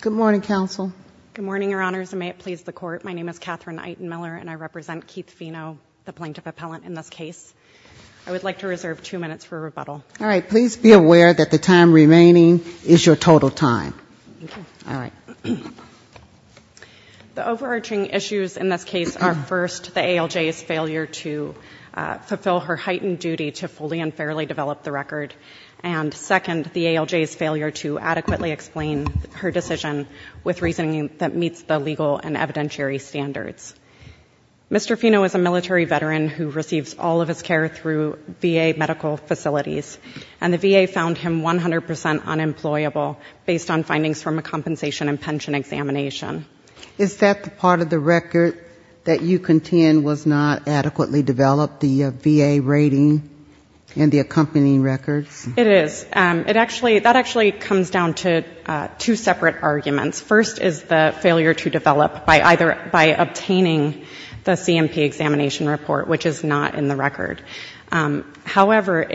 Good morning, Counsel. Good morning, Your Honors, and may it please the Court. My name is Katherine Eitenmiller, and I represent Keith Fino, the Plaintiff Appellant, in this case. I would like to reserve two minutes for rebuttal. All right. Please be aware that the time remaining is your total time. Thank you. All right. The overarching issues in this case are, first, the ALJ's failure to fulfill her heightened duty to fully and fairly develop the record, and, second, the ALJ's failure to adequately explain her decision with reasoning that meets the legal and evidentiary standards. Mr. Fino is a military veteran who receives all of his care through VA medical facilities, and the VA found him 100 percent unemployable based on findings from a compensation and pension examination. Is that part of the record that you contend was not adequately developed, the VA rating and the accompanying records? It is. That actually comes down to two separate arguments. First is the failure to develop by obtaining the C&P examination report, which is not in the record. However,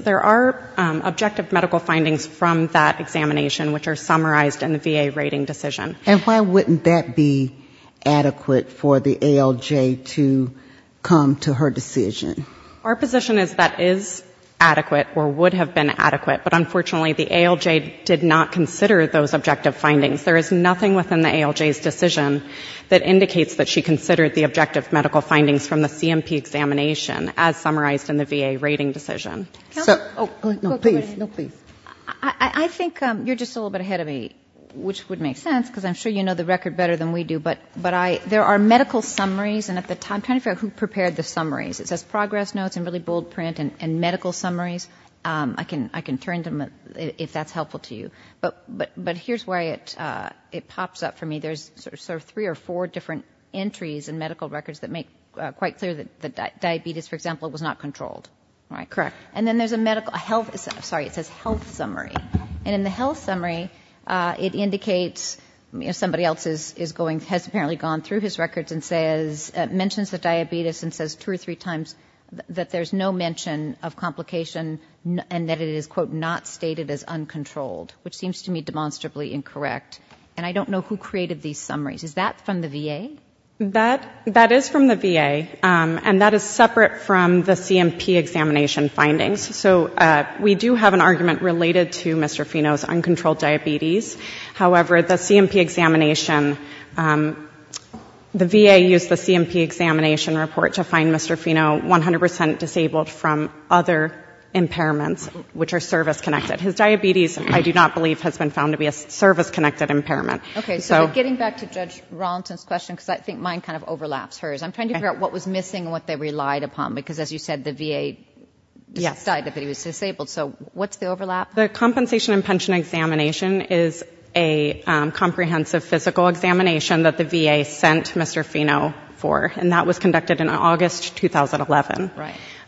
there are objective medical findings from that examination which are summarized in the VA rating decision. And why wouldn't that be adequate for the ALJ to come to her decision? Our position is that is adequate or would have been adequate, but, unfortunately, the ALJ did not consider those objective findings. There is nothing within the ALJ's decision that indicates that she considered the objective medical findings from the C&P examination, as summarized in the VA rating decision. Go ahead. I think you're just a little bit ahead of me, which would make sense because I'm sure you know the record better than we do, but there are medical summaries, and I'm trying to figure out who prepared the summaries. It says progress notes and really bold print and medical summaries. I can turn to them if that's helpful to you. But here's where it pops up for me. There's sort of three or four different entries in medical records that make quite clear that diabetes, for example, was not controlled. Correct. And then there's a medical health summary. And in the health summary, it indicates somebody else has apparently gone through his records and mentions the diabetes and says two or three times that there's no mention of complication and that it is, quote, not stated as uncontrolled, which seems to me demonstrably incorrect. And I don't know who created these summaries. Is that from the VA? That is from the VA, and that is separate from the C&P examination findings. So we do have an argument related to Mr. Fino's uncontrolled diabetes. However, the C&P examination, the VA used the C&P examination report to find Mr. Fino 100 percent disabled from other impairments, which are service-connected. His diabetes, I do not believe, has been found to be a service-connected impairment. Okay, so getting back to Judge Rawlinson's question, because I think mine kind of overlaps hers, I'm trying to figure out what was missing and what they relied upon, because as you said, the VA decided that he was disabled. So what's the overlap? The compensation and pension examination is a comprehensive physical examination that the VA sent Mr. Fino for, and that was conducted in August 2011.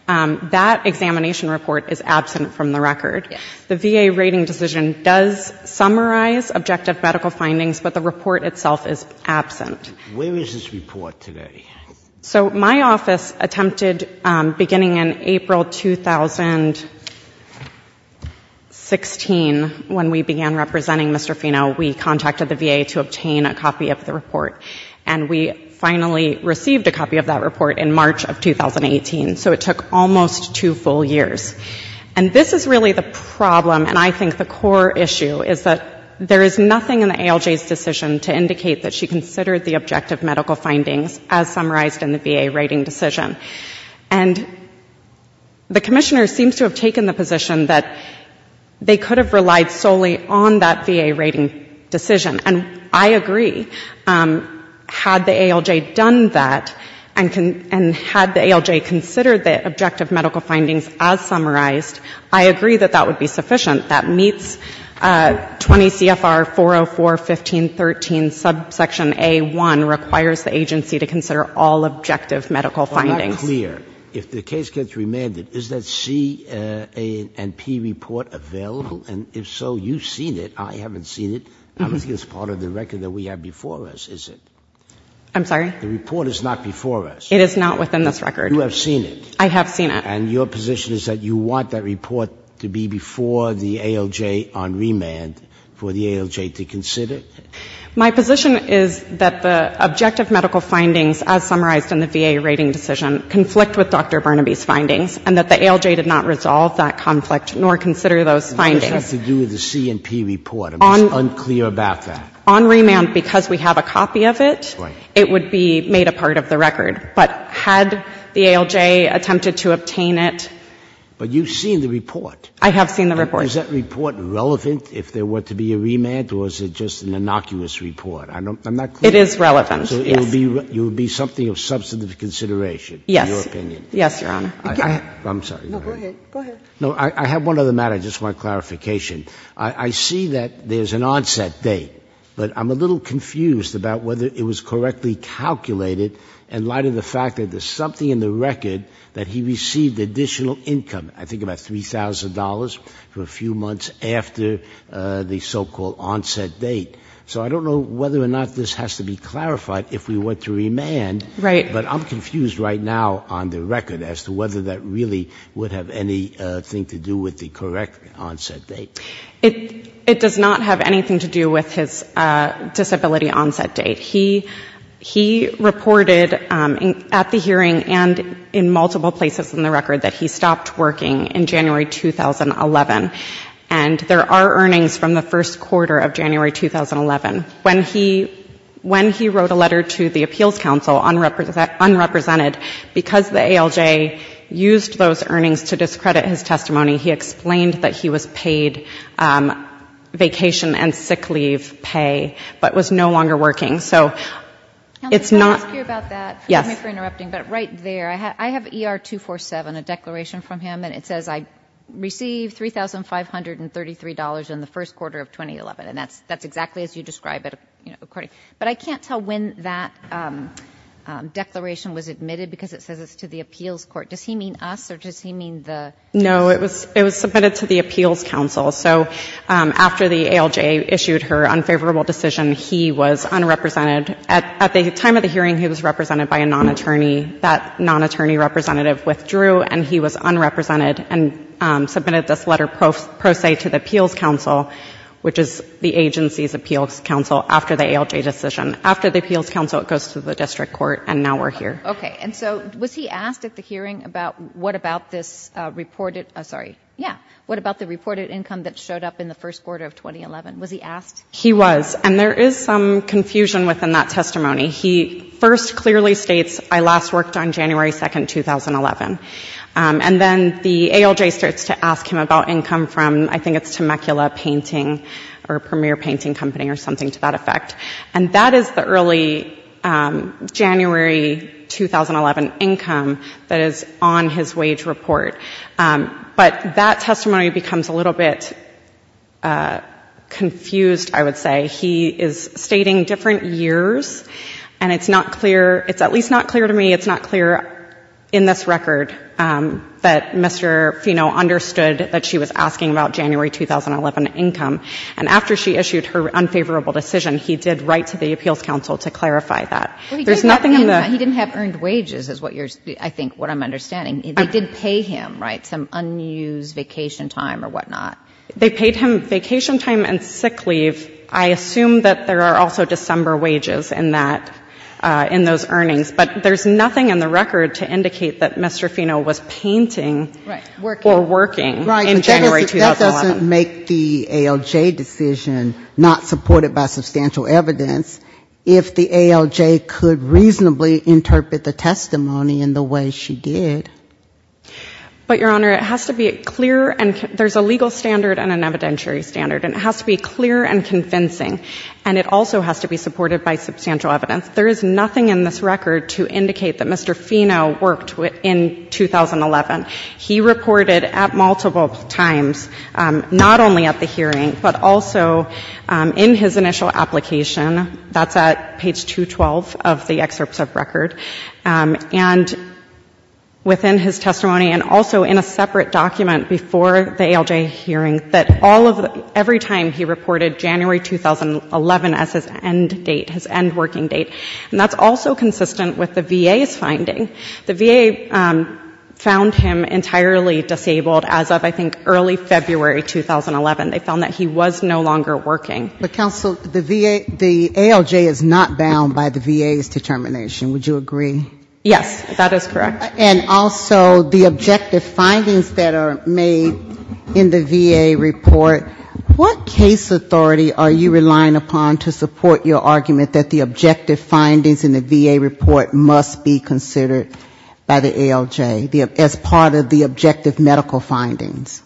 That examination report is absent from the record. The VA rating decision does summarize objective medical findings, but the report itself is absent. Where is this report today? So my office attempted, beginning in April 2016, when we began representing Mr. Fino, we contacted the VA to obtain a copy of the report. And we finally received a copy of that report in March of 2018. So it took almost two full years. And this is really the problem, and I think the core issue, is that there is nothing in the ALJ's decision to indicate that she considered the objective medical findings as summarized in the VA rating decision. And the commissioner seems to have taken the position that they could have relied solely on that VA rating decision. And I agree. Had the ALJ done that, and had the ALJ considered the objective medical findings as summarized, I agree that that would be sufficient. That meets 20 CFR 404.15.13, subsection A1, requires the agency to consider all objective medical findings. If the case gets remanded, is that C and P report available? And if so, you've seen it. I haven't seen it. I don't think it's part of the record that we have before us, is it? I'm sorry? The report is not before us. It is not within this record. You have seen it. I have seen it. And your position is that you want that report to be before the ALJ on remand for the ALJ to consider? My position is that the objective medical findings, as summarized in the VA rating decision, conflict with Dr. Burnaby's findings, and that the ALJ did not resolve that conflict, nor consider those findings. What does that have to do with the C and P report? I'm unclear about that. On remand, because we have a copy of it, it would be made a part of the record. But had the ALJ attempted to obtain it? But you've seen the report. I have seen the report. Is that report relevant if there were to be a remand, or is it just an innocuous report? I'm not clear. It is relevant, yes. So it would be something of substantive consideration, in your opinion? Yes. Yes, Your Honor. I'm sorry. No, go ahead. I have one other matter, just for clarification. I see that there's an onset date, but I'm a little confused about whether it was correctly calculated in light of the fact that there's something in the record that he received additional income, I think about $3,000, for a few months after the so-called onset date. So I don't know whether or not this has to be clarified if we were to remand. Right. But I'm confused right now on the record as to whether that really would have anything to do with the correct onset date. It does not have anything to do with his disability onset date. He reported at the hearing and in multiple places in the record that he stopped working in January 2011. And there are earnings from the first quarter of January 2011. When he wrote a letter to the Appeals Council, unrepresented, because the ALJ used those earnings to discredit his testimony, he explained that he was paid vacation and sick leave pay, but was no longer working. So it's not — Can I ask you about that? Yes. Forgive me for interrupting, but right there, I have ER-247, a declaration from him, and it says I received $3,533 in the first quarter of 2011. And that's exactly as you describe it, according — but I can't tell when that declaration was admitted, because it says it's to the Appeals Court. Does he mean us, or does he mean the — No. It was submitted to the Appeals Council. So after the ALJ issued her unfavorable decision, he was unrepresented. At the time of the hearing, he was represented by a non-attorney. That non-attorney representative withdrew, and he was unrepresented and submitted this letter pro se to the Appeals Council, which is the agency's appeals council, after the ALJ decision. After the Appeals Council, it goes to the District Court, and now we're here. Okay. And so was he asked at the hearing about what about this reported — oh, sorry. Yeah. What about the reported income that showed up in the first quarter of 2011? Was he asked? He was. And there is some confusion within that testimony. He first clearly states, I last worked on January 2, 2011. And then the ALJ starts to ask him about income from — I think it's Temecula Painting or Premier Painting Company or something to that effect. And that is the early January 2011 income that is on his wage report. But that testimony becomes a little bit confused, I would say. He is stating different years, and it's not clear — it's at least not clear to me, it's record that Mr. Fino understood that she was asking about January 2011 income. And after she issued her unfavorable decision, he did write to the Appeals Council to clarify that. There's nothing in the — He didn't have earned wages is what you're — I think, what I'm understanding. They did pay him, right, some unused vacation time or whatnot. They paid him vacation time and sick leave. I assume that there are also December wages in that — in those earnings. But there's nothing in the record to indicate that Mr. Fino was painting or working in January 2011. Right. But that doesn't make the ALJ decision not supported by substantial evidence, if the ALJ could reasonably interpret the testimony in the way she did. But, Your Honor, it has to be clear and — there's a legal standard and an evidentiary standard. And it has to be clear and convincing. And it also has to be supported by substantial evidence. There is nothing in this record to indicate that Mr. Fino worked in 2011. He reported at multiple times, not only at the hearing, but also in his initial application. That's at page 212 of the excerpts of record. And within his testimony and also in a separate document before the ALJ hearing, that all of — every time he reported January 2011 as his end date, his end working date. And that's also consistent with the VA's finding. The VA found him entirely disabled as of, I think, early February 2011. They found that he was no longer working. But, counsel, the ALJ is not bound by the VA's determination. Would you agree? Yes, that is correct. And also the objective findings that are made in the VA report, what case authority are you relying upon to support your argument that the objective findings in the VA report must be considered by the ALJ? As part of the objective medical findings?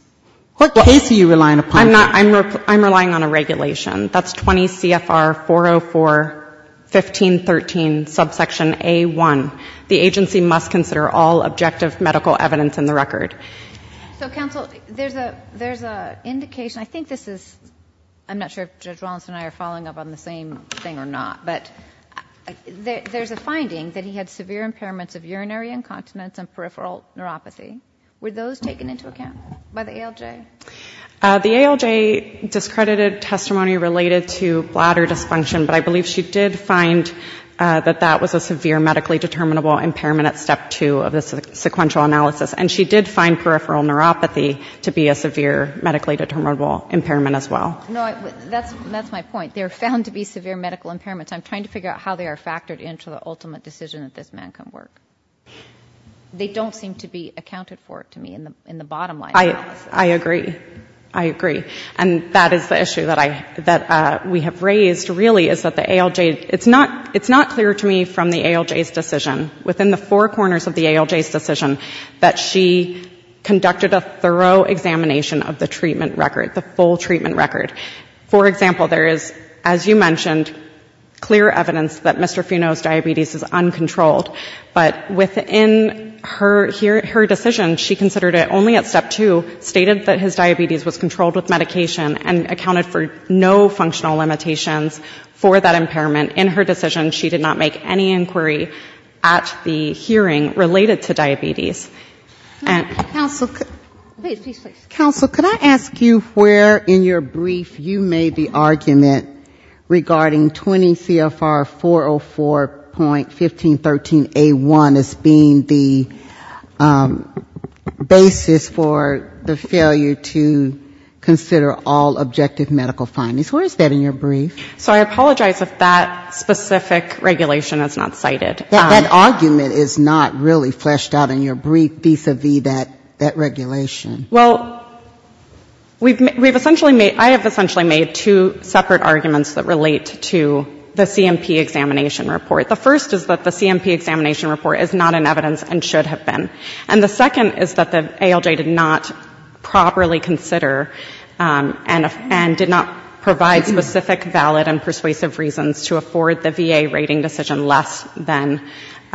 What case are you relying upon? I'm relying on a regulation. That's 20 CFR 404-1513, subsection A-1. The agency must consider all objective medical evidence in the record. So, counsel, there's an indication — I think this is — I'm not sure if Judge Wallinson and I are following up on the same thing or not. But there's a finding that he had severe impairments of urinary incontinence and peripheral neuropathy. Were those taken into account by the ALJ? The ALJ discredited testimony related to bladder dysfunction. But I believe she did find that that was a severe medically determinable impairment at step two of the sequential analysis. And she did find peripheral neuropathy to be a severe medically determinable impairment as well. No, that's my point. They're found to be severe medical impairments. I'm trying to figure out how they are factored into the ultimate decision that this man can work. They don't seem to be accounted for, to me, in the bottom line. I agree. I agree. And that is the issue that we have raised, really, is that the ALJ — it's not clear to me from the ALJ's decision, within the four corners of the ALJ's decision, that she conducted a thorough examination of the treatment record, the full treatment record. For example, there is, as you mentioned, clear evidence that Mr. Funo's diabetes is uncontrolled. But within her decision, she considered it only at step two, stated that his diabetes was controlled with medication and accounted for no functional limitations for that impairment. In her decision, she did not make any inquiry at the hearing related to diabetes. Counsel, could I ask you where in your brief you made the argument regarding 20 CFR 404.1513A1 as being the basis for the failure to consider all objective medical findings? Where is that in your brief? So I apologize if that specific regulation is not cited. Where is that in your brief vis-a-vis that regulation? Well, we've essentially made — I have essentially made two separate arguments that relate to the CMP examination report. The first is that the CMP examination report is not in evidence and should have been. And the second is that the ALJ did not properly consider and did not provide specific valid and persuasive reasons to afford the VA rating decision less than —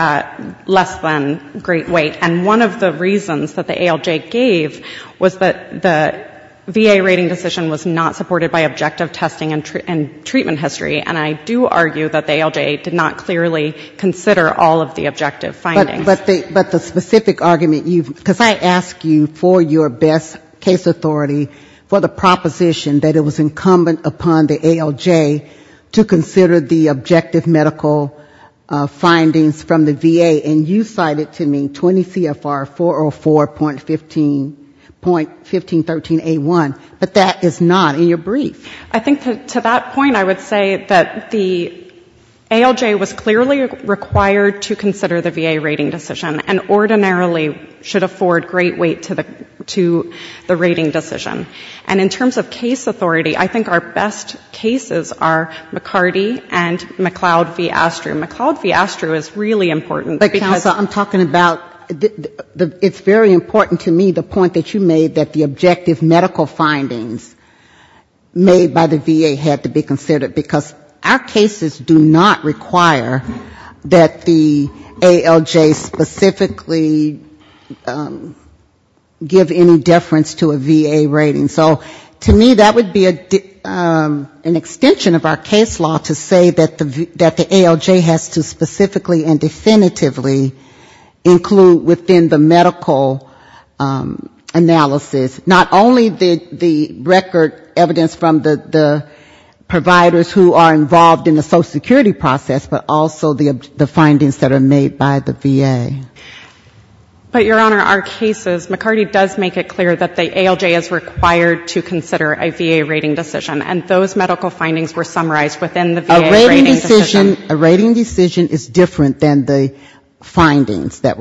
less than great weight. And one of the reasons that the ALJ gave was that the VA rating decision was not supported by objective testing and treatment history. And I do argue that the ALJ did not clearly consider all of the objective findings. But the specific argument you've — because I ask you for your best case authority for the proposition that it was incumbent upon the ALJ to consider the findings from the VA, and you cited to me 20 CFR 404.15 — .1513A1, but that is not in your brief. I think to that point I would say that the ALJ was clearly required to consider the VA rating decision and ordinarily should afford great weight to the rating decision. And in terms of case authority, I think our best cases are McCarty and McLeod v. Astrum. McLeod v. Astrum is really important. Because I'm talking about — it's very important to me the point that you made, that the objective medical findings made by the VA had to be considered, because our cases do not require that the ALJ specifically give any deference to a VA rating. So to me that would be an extension of our case law to say that the ALJ had to be considered. It has to specifically and definitively include within the medical analysis not only the record evidence from the providers who are involved in the social security process, but also the findings that are made by the VA. But, Your Honor, our cases, McCarty does make it clear that the ALJ is required to consider a VA rating decision, and those medical findings were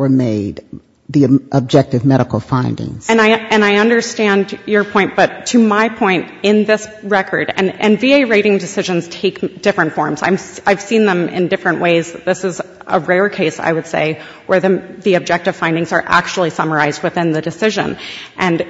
made. And I understand your point, but to my point, in this record, and VA rating decisions take different forms. I've seen them in different ways. This is a rare case, I would say, where the objective findings are actually summarized within the decision. And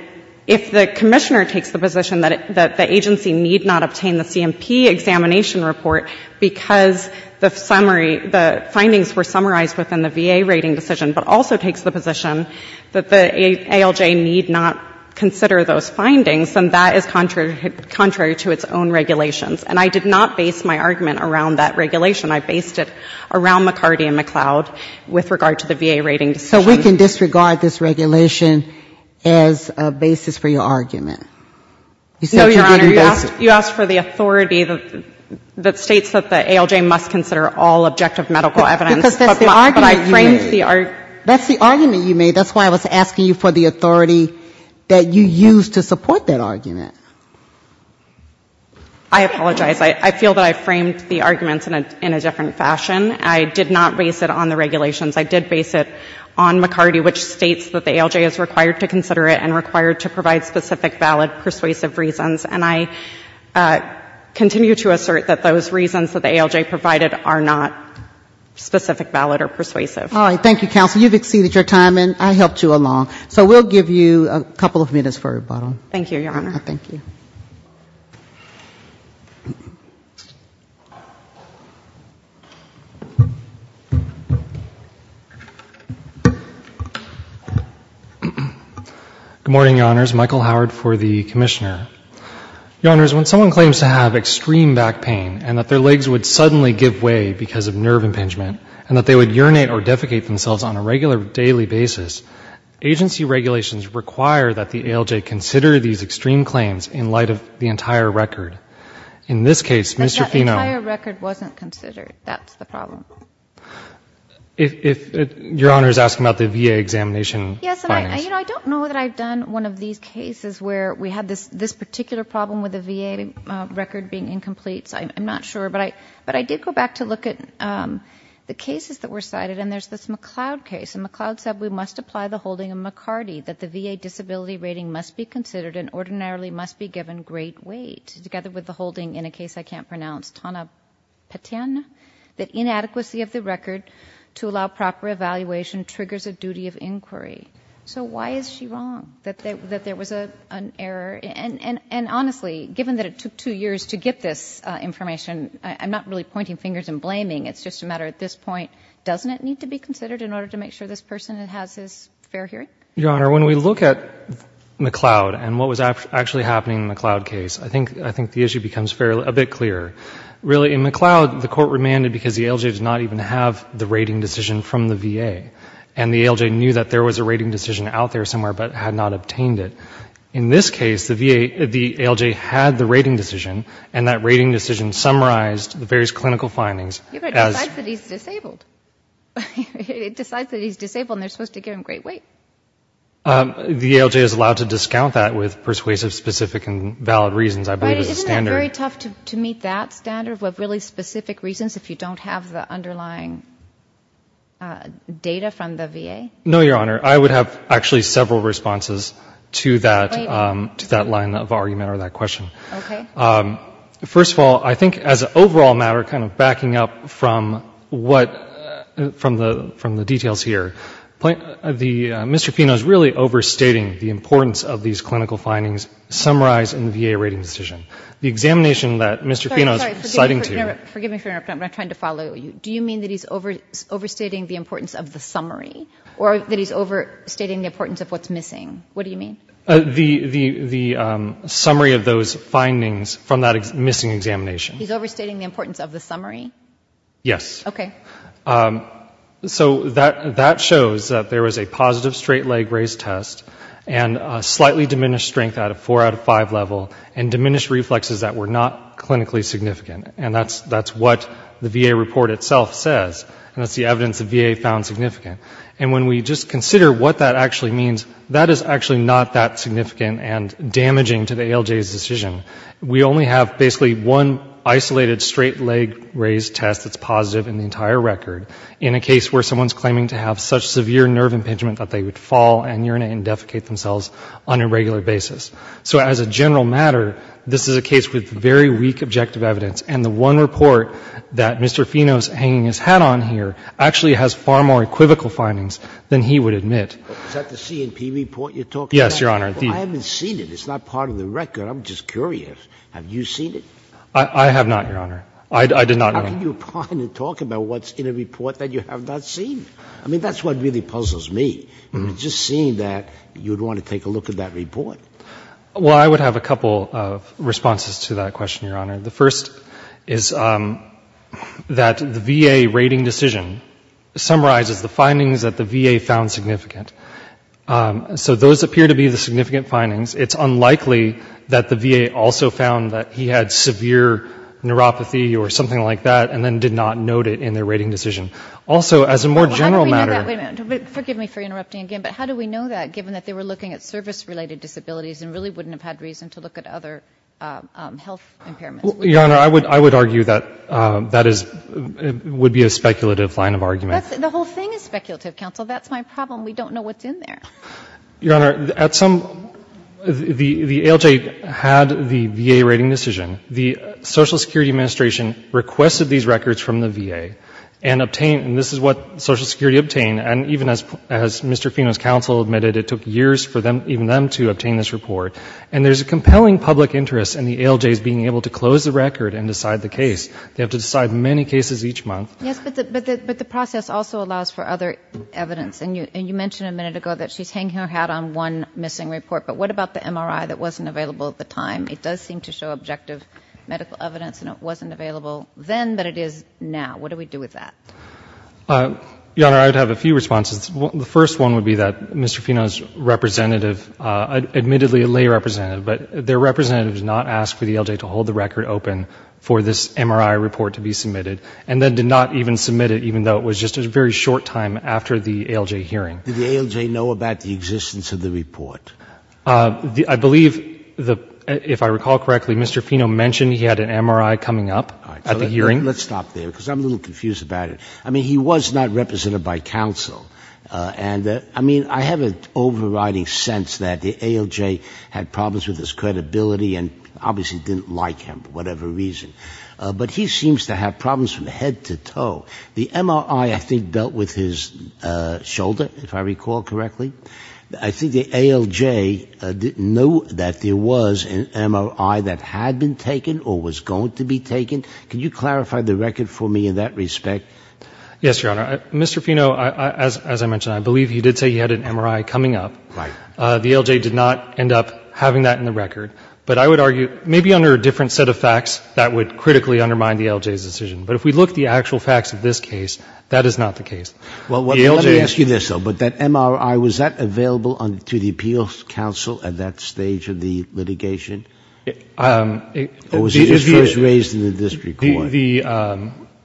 if the commissioner takes the position that the agency need not obtain the CMP examination report because the summary findings were summarized within the VA rating decision, but also takes the position that the ALJ need not consider those findings, then that is contrary to its own regulations. And I did not base my argument around that regulation. I based it around McCarty and McCloud with regard to the VA rating decision. So we can disregard this regulation as a basis for your argument? No, Your Honor, you asked for the authority that states that the ALJ must consider all objective findings. Because that's the argument you made. That's the argument you made. That's why I was asking you for the authority that you used to support that argument. I apologize. I feel that I framed the arguments in a different fashion. I did not base it on the regulations. I did base it on McCarty, which states that the ALJ is required to consider it and required to provide specific valid persuasive reasons. And I continue to assert that those reasons that the ALJ provided are not specific valid or persuasive. All right. Thank you, counsel. You've exceeded your time, and I helped you along. So we'll give you a couple of minutes for rebuttal. Thank you, Your Honor. Good morning, Your Honors. Michael Howard for the Commissioner. Your Honors, when someone claims to have extreme back pain and that their legs would suddenly give way because of nerve impingement, and that they would urinate or defecate themselves on a regular daily basis, agency regulations require that the ALJ consider these extreme claims in light of the entire record. In this case, Mr. Phenom... That entire record wasn't considered. That's the problem. Your Honor is asking about the VA examination findings. Yes, and I don't know that I've done one of these cases where we had this particular problem with the VA record being incomplete, so I'm not sure. But I did go back to look at the cases that were cited, and there's this McLeod case. And McLeod said we must apply the holding of McCarty, that the VA disability rating must be considered and ordinarily must be given great weight, together with the holding, in a case I can't pronounce, Tana Patina, that inadequacy of the record to allow proper evaluation triggers a duty of inquiry. So why is she wrong, that there was an error? And honestly, given that it took two years to get this information, I'm not really pointing fingers and blaming, it's just a matter at this point, doesn't it need to be considered in order to make sure this person has his fair hearing? Your Honor, when we look at McLeod and what was actually happening in the McLeod case, I think the issue becomes a bit clearer. Really, in McLeod, the court remanded because the ALJ did not even have the rating decision from the VA. And the ALJ knew that there was a rating decision out there somewhere, but had not obtained it. In this case, the ALJ had the rating decision, and that rating decision summarized the various clinical findings as... Your Honor, it decides that he's disabled. It decides that he's disabled, and they're supposed to give him great weight. The ALJ is allowed to discount that with persuasive, specific, and valid reasons, I believe is the standard. Isn't that very tough to meet that standard, with really specific reasons, if you don't have the underlying data from the VA? No, Your Honor. I would have actually several responses to that line of argument or that question. First of all, I think as an overall matter, kind of backing up from the details here, Mr. Pino is really overstating the importance of these clinical findings summarized in the VA rating decision. The examination that Mr. Pino is citing to you... Or that he's overstating the importance of what's missing. What do you mean? The summary of those findings from that missing examination. He's overstating the importance of the summary? Yes. Okay. So that shows that there was a positive straight leg raised test, and a slightly diminished strength out of four out of five level, and diminished reflexes that were not clinically significant. And that's what the VA report itself says. And that's the evidence the VA found significant. And when we just consider what that actually means, that is actually not that significant and damaging to the ALJ's decision. We only have basically one isolated straight leg raised test that's positive in the entire record. In a case where someone's claiming to have such severe nerve impingement that they would fall and urinate and defecate themselves on a regular basis. So as a general matter, this is a case with very weak objective evidence. And the one report that Mr. Pino's hanging his hat on here actually has far more equivocal findings than he would admit. Is that the C&P report you're talking about? Yes, Your Honor. I haven't seen it. It's not part of the record. I'm just curious. Have you seen it? I have not, Your Honor. I did not know. How can you talk about what's in a report that you have not seen? I mean, that's what really puzzles me. Just seeing that, you'd want to take a look at that report. Well, I would have a couple of responses to that question, Your Honor. The first is that the VA rating decision summarizes the findings that the VA found significant. So those appear to be the significant findings. It's unlikely that the VA also found that he had severe neuropathy or something like that and then did not note it in their rating decision. Also, as a more general matter... Your Honor, I would argue that that would be a speculative line of argument. The whole thing is speculative, counsel. That's my problem. We don't know what's in there. Your Honor, the ALJ had the VA rating decision. The Social Security Administration requested these records from the VA and obtained them, and this is what Social Security obtained. And even as Mr. Pino's counsel admitted, it took years for them, even them, to obtain this report. And there's a compelling public interest in the ALJs being able to close the record and decide the case. They have to decide many cases each month. Yes, but the process also allows for other evidence. And you mentioned a minute ago that she's hanging her hat on one missing report. But what about the MRI that wasn't available at the time? It does seem to show objective medical evidence, and it wasn't available then, but it is now. What do we do with that? Your Honor, I would have a few responses. The first one would be that Mr. Pino's representative, admittedly a lay representative, but their representative did not ask for the ALJ to hold the record open for this MRI report to be submitted, and then did not even submit it, even though it was just a very short time after the ALJ hearing. Did the ALJ know about the existence of the report? I believe, if I recall correctly, Mr. Pino mentioned he had an MRI coming up at the hearing. Let's stop there, because I'm a little confused about it. I mean, he was not represented by counsel. And I mean, I have an overriding sense that the ALJ had problems with his credibility and obviously didn't like him for whatever reason. But he seems to have problems from head to toe. The MRI, I think, dealt with his shoulder, if I recall correctly. I think the ALJ knew that there was an MRI that had been taken or was going to be taken. Can you clarify the record for me in that respect? Yes, Your Honor. Mr. Pino, as I mentioned, I believe he did say he had an MRI coming up. The ALJ did not end up having that in the record. But I would argue, maybe under a different set of facts, that would critically undermine the ALJ's decision. But if we look at the actual facts of this case, that is not the case. Well, let me ask you this, though. But that MRI, was that available to the Appeals Council at that stage of the litigation? Or was it first raised in the district court?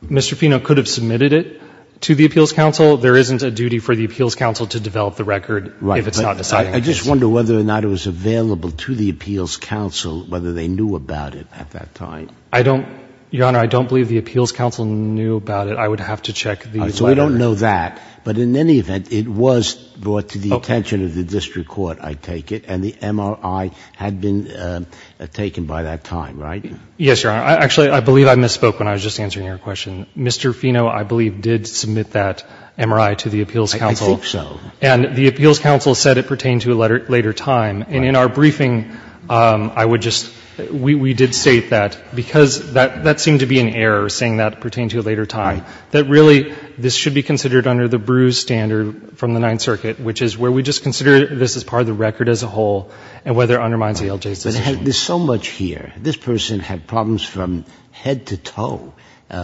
Mr. Pino could have submitted it to the Appeals Council. There isn't a duty for the Appeals Council to develop the record if it's not decided. I just wonder whether or not it was available to the Appeals Council, whether they knew about it at that time. I don't, Your Honor, I don't believe the Appeals Council knew about it. I would have to check the letter. So we don't know that. But in any event, it was brought to the attention of the district court, I take it, and the MRI had been taken by that time, right? Yes, Your Honor. Actually, I believe I misspoke when I was just answering your question. Mr. Pino, I believe, did submit that MRI to the Appeals Council. I think so. And the Appeals Council said it pertained to a later time. And in our briefing, I would just — we did state that, because that seemed to be an error, saying that it pertained to a later time, that really, this should be considered under the Brews standard from the Ninth Circuit, which is where we just consider this as part of the record as a whole and whether it undermines the LJ's decision. But there's so much here. This person had problems from head to toe.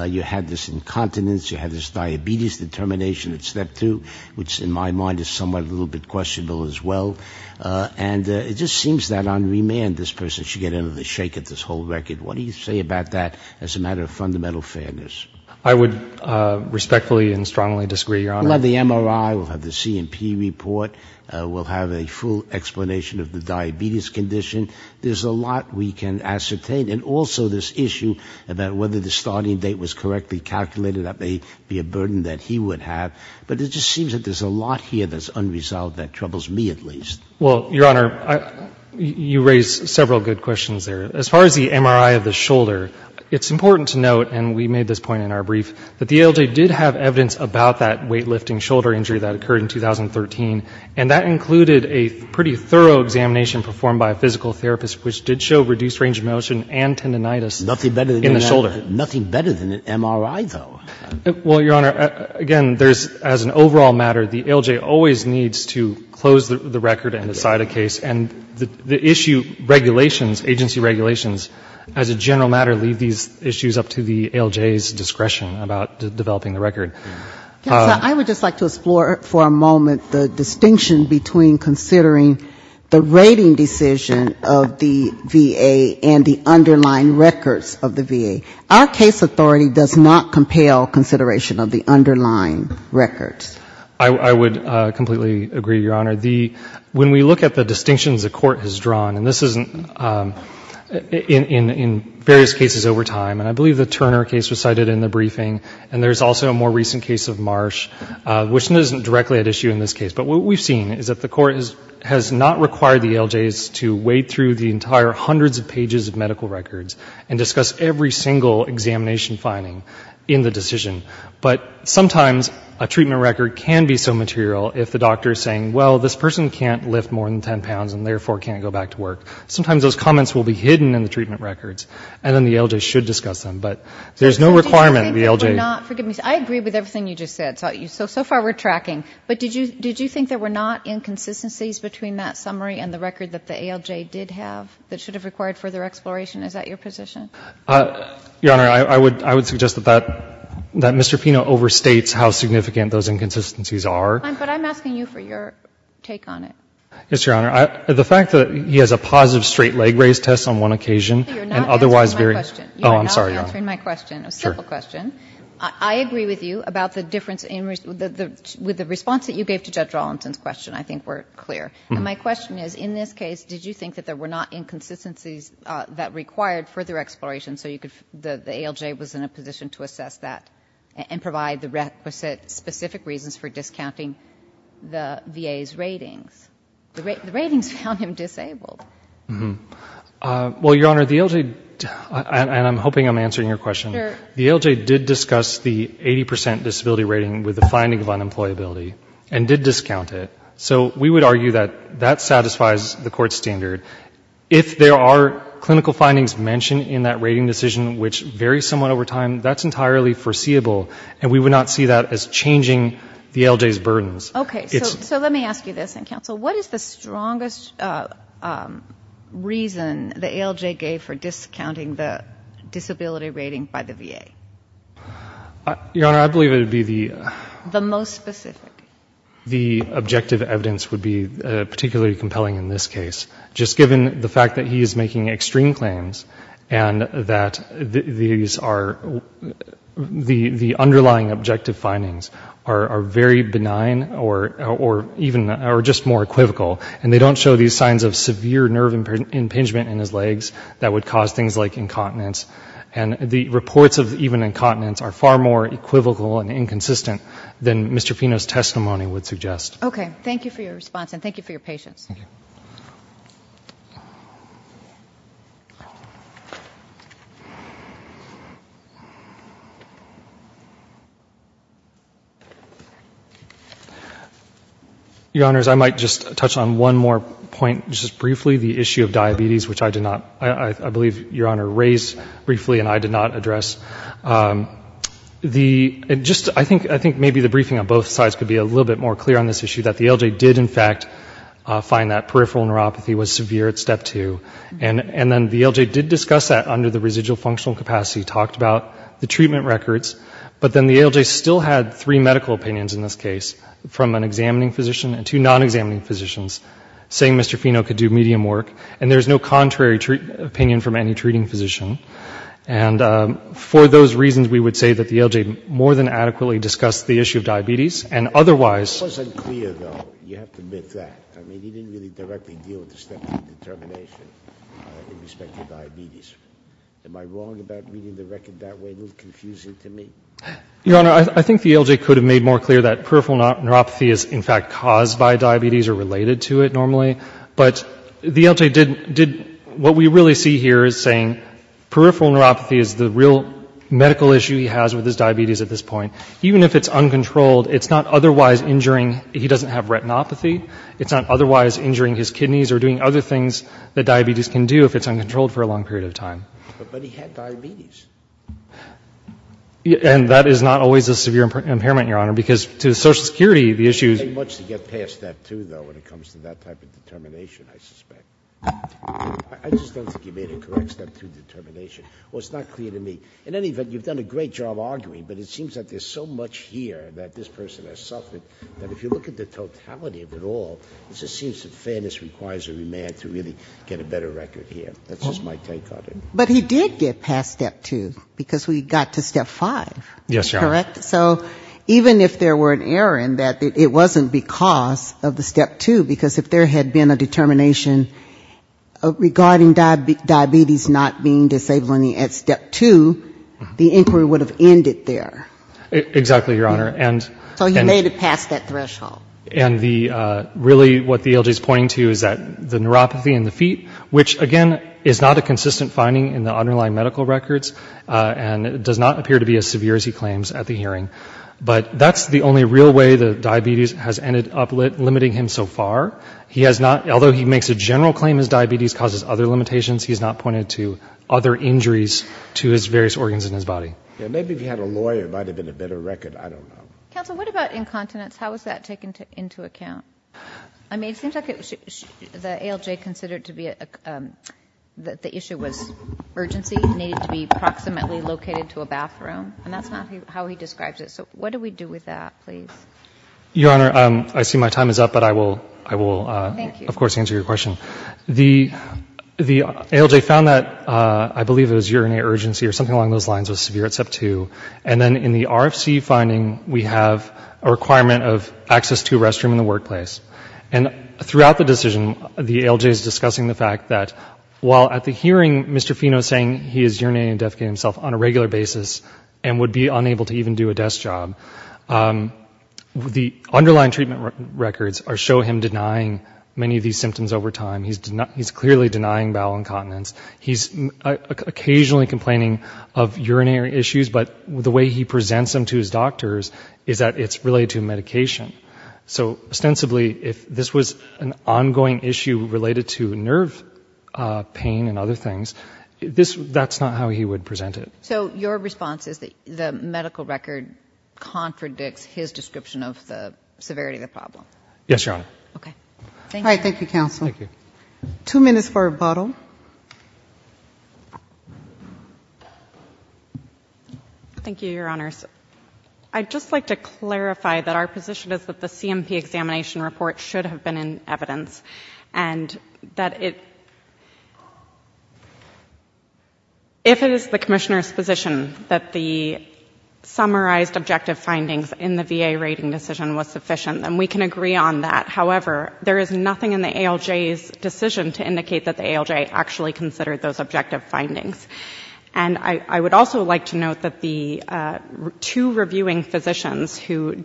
You had this incontinence. You had this diabetes determination that slept through, which in my mind is somewhat a little bit questionable as well. And it just seems that on remand, this person should get another shake at this whole record. What do you say about that as a matter of fundamental fairness? I would respectfully and strongly disagree, Your Honor. We'll have the MRI. We'll have the C&P report. We'll have a full explanation of the diabetes condition. There's a lot we can ascertain. And also this issue about whether the starting date was correctly calculated, that may be a burden that he would have. But it just seems that there's a lot here that's unresolved that troubles me at least. Well, Your Honor, you raise several good questions there. As far as the MRI of the shoulder, it's important to note, and we made this point in our brief, that the ALJ did have evidence about that weightlifting shoulder injury that occurred in 2013. And that included a pretty thorough examination performed by a physical therapist, which did show reduced range of motion and tendinitis in the shoulder. Nothing better than an MRI, though. Well, Your Honor, again, there's, as an overall matter, the ALJ always needs to close the record and decide a case, and the issue regulations, agency regulations, as a general matter, leave these issues up to the ALJ's discretion about developing the record. Counsel, I would just like to explore for a moment the distinction between considering the rating decision of the VA and the underlying records of the VA. Our case authority does not compel consideration of the underlying records. I would completely agree, Your Honor. When we look at the distinctions the Court has drawn, and this is in various cases over time, and I believe the Turner case was cited in the briefing, and there's also a more recent case of Marsh, which isn't directly at issue in this case. But what we've seen is that the Court has not required the ALJs to wade through the entire hundreds of pages of medical records and discuss every single examination finding in the decision. But sometimes a treatment record can be so material if the doctor is saying, well, this person can't lift more than 10 pounds and therefore can't go back to work. Sometimes those comments will be hidden in the treatment records, and then the ALJ should discuss them. But there's no requirement the ALJ... I agree with everything you just said. So far we're tracking. But did you think there were not inconsistencies between that summary and the record that the ALJ did have that should have required further exploration? Is that your position? Your Honor, I would suggest that Mr. Pino overstates how significant those inconsistencies are. But I'm asking you for your take on it. Yes, Your Honor. The fact that he has a positive straight leg raise test on one occasion and otherwise very... You're not answering my question. Oh, I'm sorry, Your Honor. You're not answering my question. A simple question. I agree with you about the difference with the response that you gave to Judge Arlington's question. I think we're clear. And my question is, in this case, did you think that there were not inconsistencies that required further exploration so you could... The ALJ was in a position to assess that and provide the requisite specific reasons for discounting the VA's ratings. The ratings found him disabled. Well, Your Honor, the ALJ... And I'm hoping I'm answering your question. The ALJ did discuss the 80% disability rating with the finding of unemployability and did discount it. So we would argue that that satisfies the court's standard. If there are clinical findings mentioned in that rating decision, which vary somewhat over time, that's entirely foreseeable, and we would not see that as changing the ALJ's burdens. Okay. So let me ask you this, and, counsel, what is the strongest reason the ALJ gave for discounting the disability rating by the VA? Your Honor, I believe it would be the... The most specific. The objective evidence would be particularly compelling in this case, just given the fact that he is making extreme claims and that these are... The underlying objective findings are very benign or even just more equivocal, and they don't show these signs of severe nerve impingement in his legs that would cause things like incontinence. And the reports of even incontinence are far more equivocal and inconsistent than Mr. Fino's testimony would suggest. Okay. Thank you for your response, and thank you for your patience. Thank you. Your Honors, I might just touch on one more point just briefly, the issue of diabetes, which I did not... I believe, Your Honor, raise briefly and I did not address. I think maybe the briefing on both sides could be a little bit more clear on this issue, that the ALJ did, in fact, find that peripheral neuropathy was severe at step two, and then the ALJ did discuss that under the residual functional capacity, talked about the treatment records, but then the ALJ still had three medical opinions in this case, from an examining physician and two non-examining physicians, saying Mr. Fino could do medium work, and there's no contrary opinion from any treating physician. And for those reasons, we would say that the ALJ more than adequately discussed the issue of diabetes, and otherwise... It wasn't clear, though. You have to admit that. I mean, he didn't really directly deal with the step two determination in respect to diabetes. Am I wrong about reading the record that way? A little confusing to me? Your Honor, I think the ALJ could have made more clear that peripheral neuropathy is, in fact, caused by diabetes or related to it normally, but the ALJ did what we really see here as saying peripheral neuropathy is the real medical issue he has with his diabetes at this point. Even if it's uncontrolled, it's not otherwise injuring. He doesn't have retinopathy. It's not otherwise injuring his kidneys or doing other things that diabetes can do if it's uncontrolled for a long period of time. But he had diabetes. And that is not always a severe impairment, Your Honor, because to Social Security, the issue is... It doesn't take much to get past step two, though, when it comes to that type of determination, I suspect. I just don't think he made a correct step two determination. Well, it's not clear to me. In any event, you've done a great job arguing, but it seems that there's so much here that this person has suffered that if you look at the totality of it all, it just seems that fairness requires a remand to really get a better record here. That's just my take on it. But he did get past step two because we got to step five, correct? Yes, Your Honor. So even if there were an error in that, it wasn't because of the step two. Because if there had been a determination regarding diabetes not being disabled at step two, the inquiry would have ended there. Exactly, Your Honor. So you made it past that threshold. And really what the ALJ is pointing to is that the neuropathy in the feet, which, again, is not a consistent finding in the underlying medical records, and does not appear to be as severe as he claims at the hearing. But that's the only real way that diabetes has ended up limiting him so far. He has not, although he makes a general claim his diabetes causes other limitations, he has not pointed to other injuries to his various organs in his body. Maybe if he had a lawyer, it might have been a better record. I don't know. Counsel, what about incontinence? How is that taken into account? I mean, it seems like the ALJ considered to be that the issue was urgency, needed to be proximately located to a bathroom, and that's not how he describes it. So what do we do with that, please? Your Honor, I see my time is up, but I will, of course, answer your question. The ALJ found that I believe it was urinary urgency or something along those lines was severe at step two. And then in the RFC finding, we have a requirement of access to a restroom in the workplace. And throughout the decision, the ALJ is discussing the fact that while at the hearing, Mr. Fino is saying he is urinating and defecating himself on a regular basis and would be unable to even do a desk job, the underlying treatment records show him denying many of these symptoms over time. He's clearly denying bowel incontinence. He's occasionally complaining of urinary issues, but the way he presents them to his doctors is that it's related to medication. So, ostensibly, if this was an ongoing issue related to nerve pain and other things, that's not how he would present it. So your response is that the medical record contradicts his description of the severity of the problem? Yes, Your Honor. Okay. All right. Thank you, counsel. Thank you. Two minutes for rebuttal. Thank you, Your Honors. I'd just like to clarify that our position is that the CMP examination report should have been in evidence and that if it is the Commissioner's position that the summarized objective findings in the VA rating decision was sufficient, then we can agree on that. However, there is nothing in the ALJ's decision to indicate that the ALJ actually considered those objective findings. And I would also like to note that the two reviewing physicians who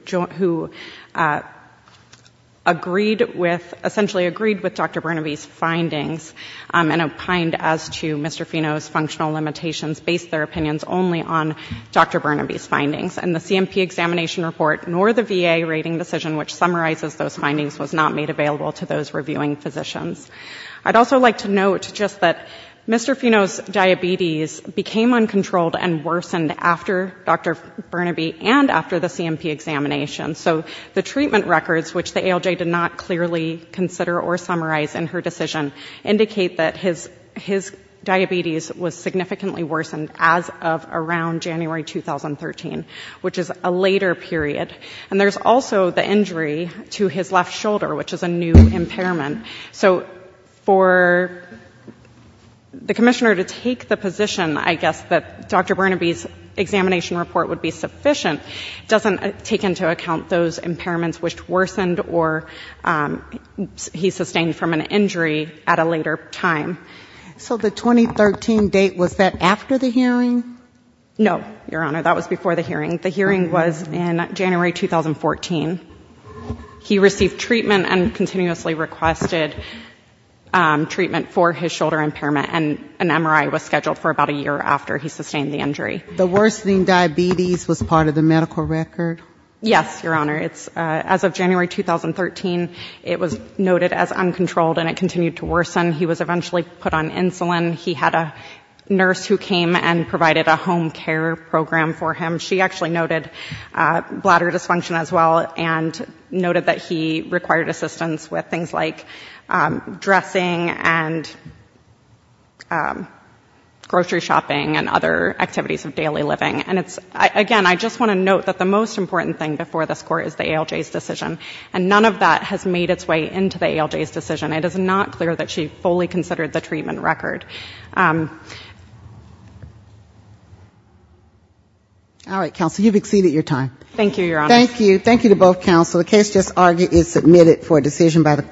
essentially agreed with Dr. Burnaby's findings and opined as to Mr. Fino's functional limitations based their opinions only on Dr. Burnaby's findings, and the CMP examination report nor the VA rating decision which summarizes those findings was not made available to those reviewing physicians. I'd also like to note just that Mr. Fino's diabetes became uncontrolled and worsened after Dr. Burnaby and after the CMP examination. So the treatment records, which the ALJ did not clearly consider or summarize in her decision, indicate that his diabetes was significantly worsened as of around January 2013, which is a later period. And there's also the injury to his left shoulder, which is a new impairment. So for the Commissioner to take the position, I guess, that Dr. Burnaby's examination report would be sufficient doesn't take into account those impairments which worsened or he sustained from an injury at a later time. So the 2013 date, was that after the hearing? No, Your Honor. That was before the hearing. The hearing was in January 2014. He received treatment and continuously requested treatment for his shoulder impairment. And an MRI was scheduled for about a year after he sustained the injury. The worsening diabetes was part of the medical record? Yes, Your Honor. As of January 2013, it was noted as uncontrolled and it continued to worsen. He was eventually put on insulin. He had a nurse who came and provided a home care program for him. She actually noted bladder dysfunction as well and noted that he required assistance with things like dressing and grocery shopping and other activities of daily living. And again, I just want to note that the most important thing before this Court is the ALJ's decision. And none of that has made its way into the ALJ's decision. It is not clear that she fully considered the treatment record. All right, Counsel. You've exceeded your time. Thank you, Your Honor. Thank you. Thank you to both Counsel. The case just argued is submitted for a decision by the Court.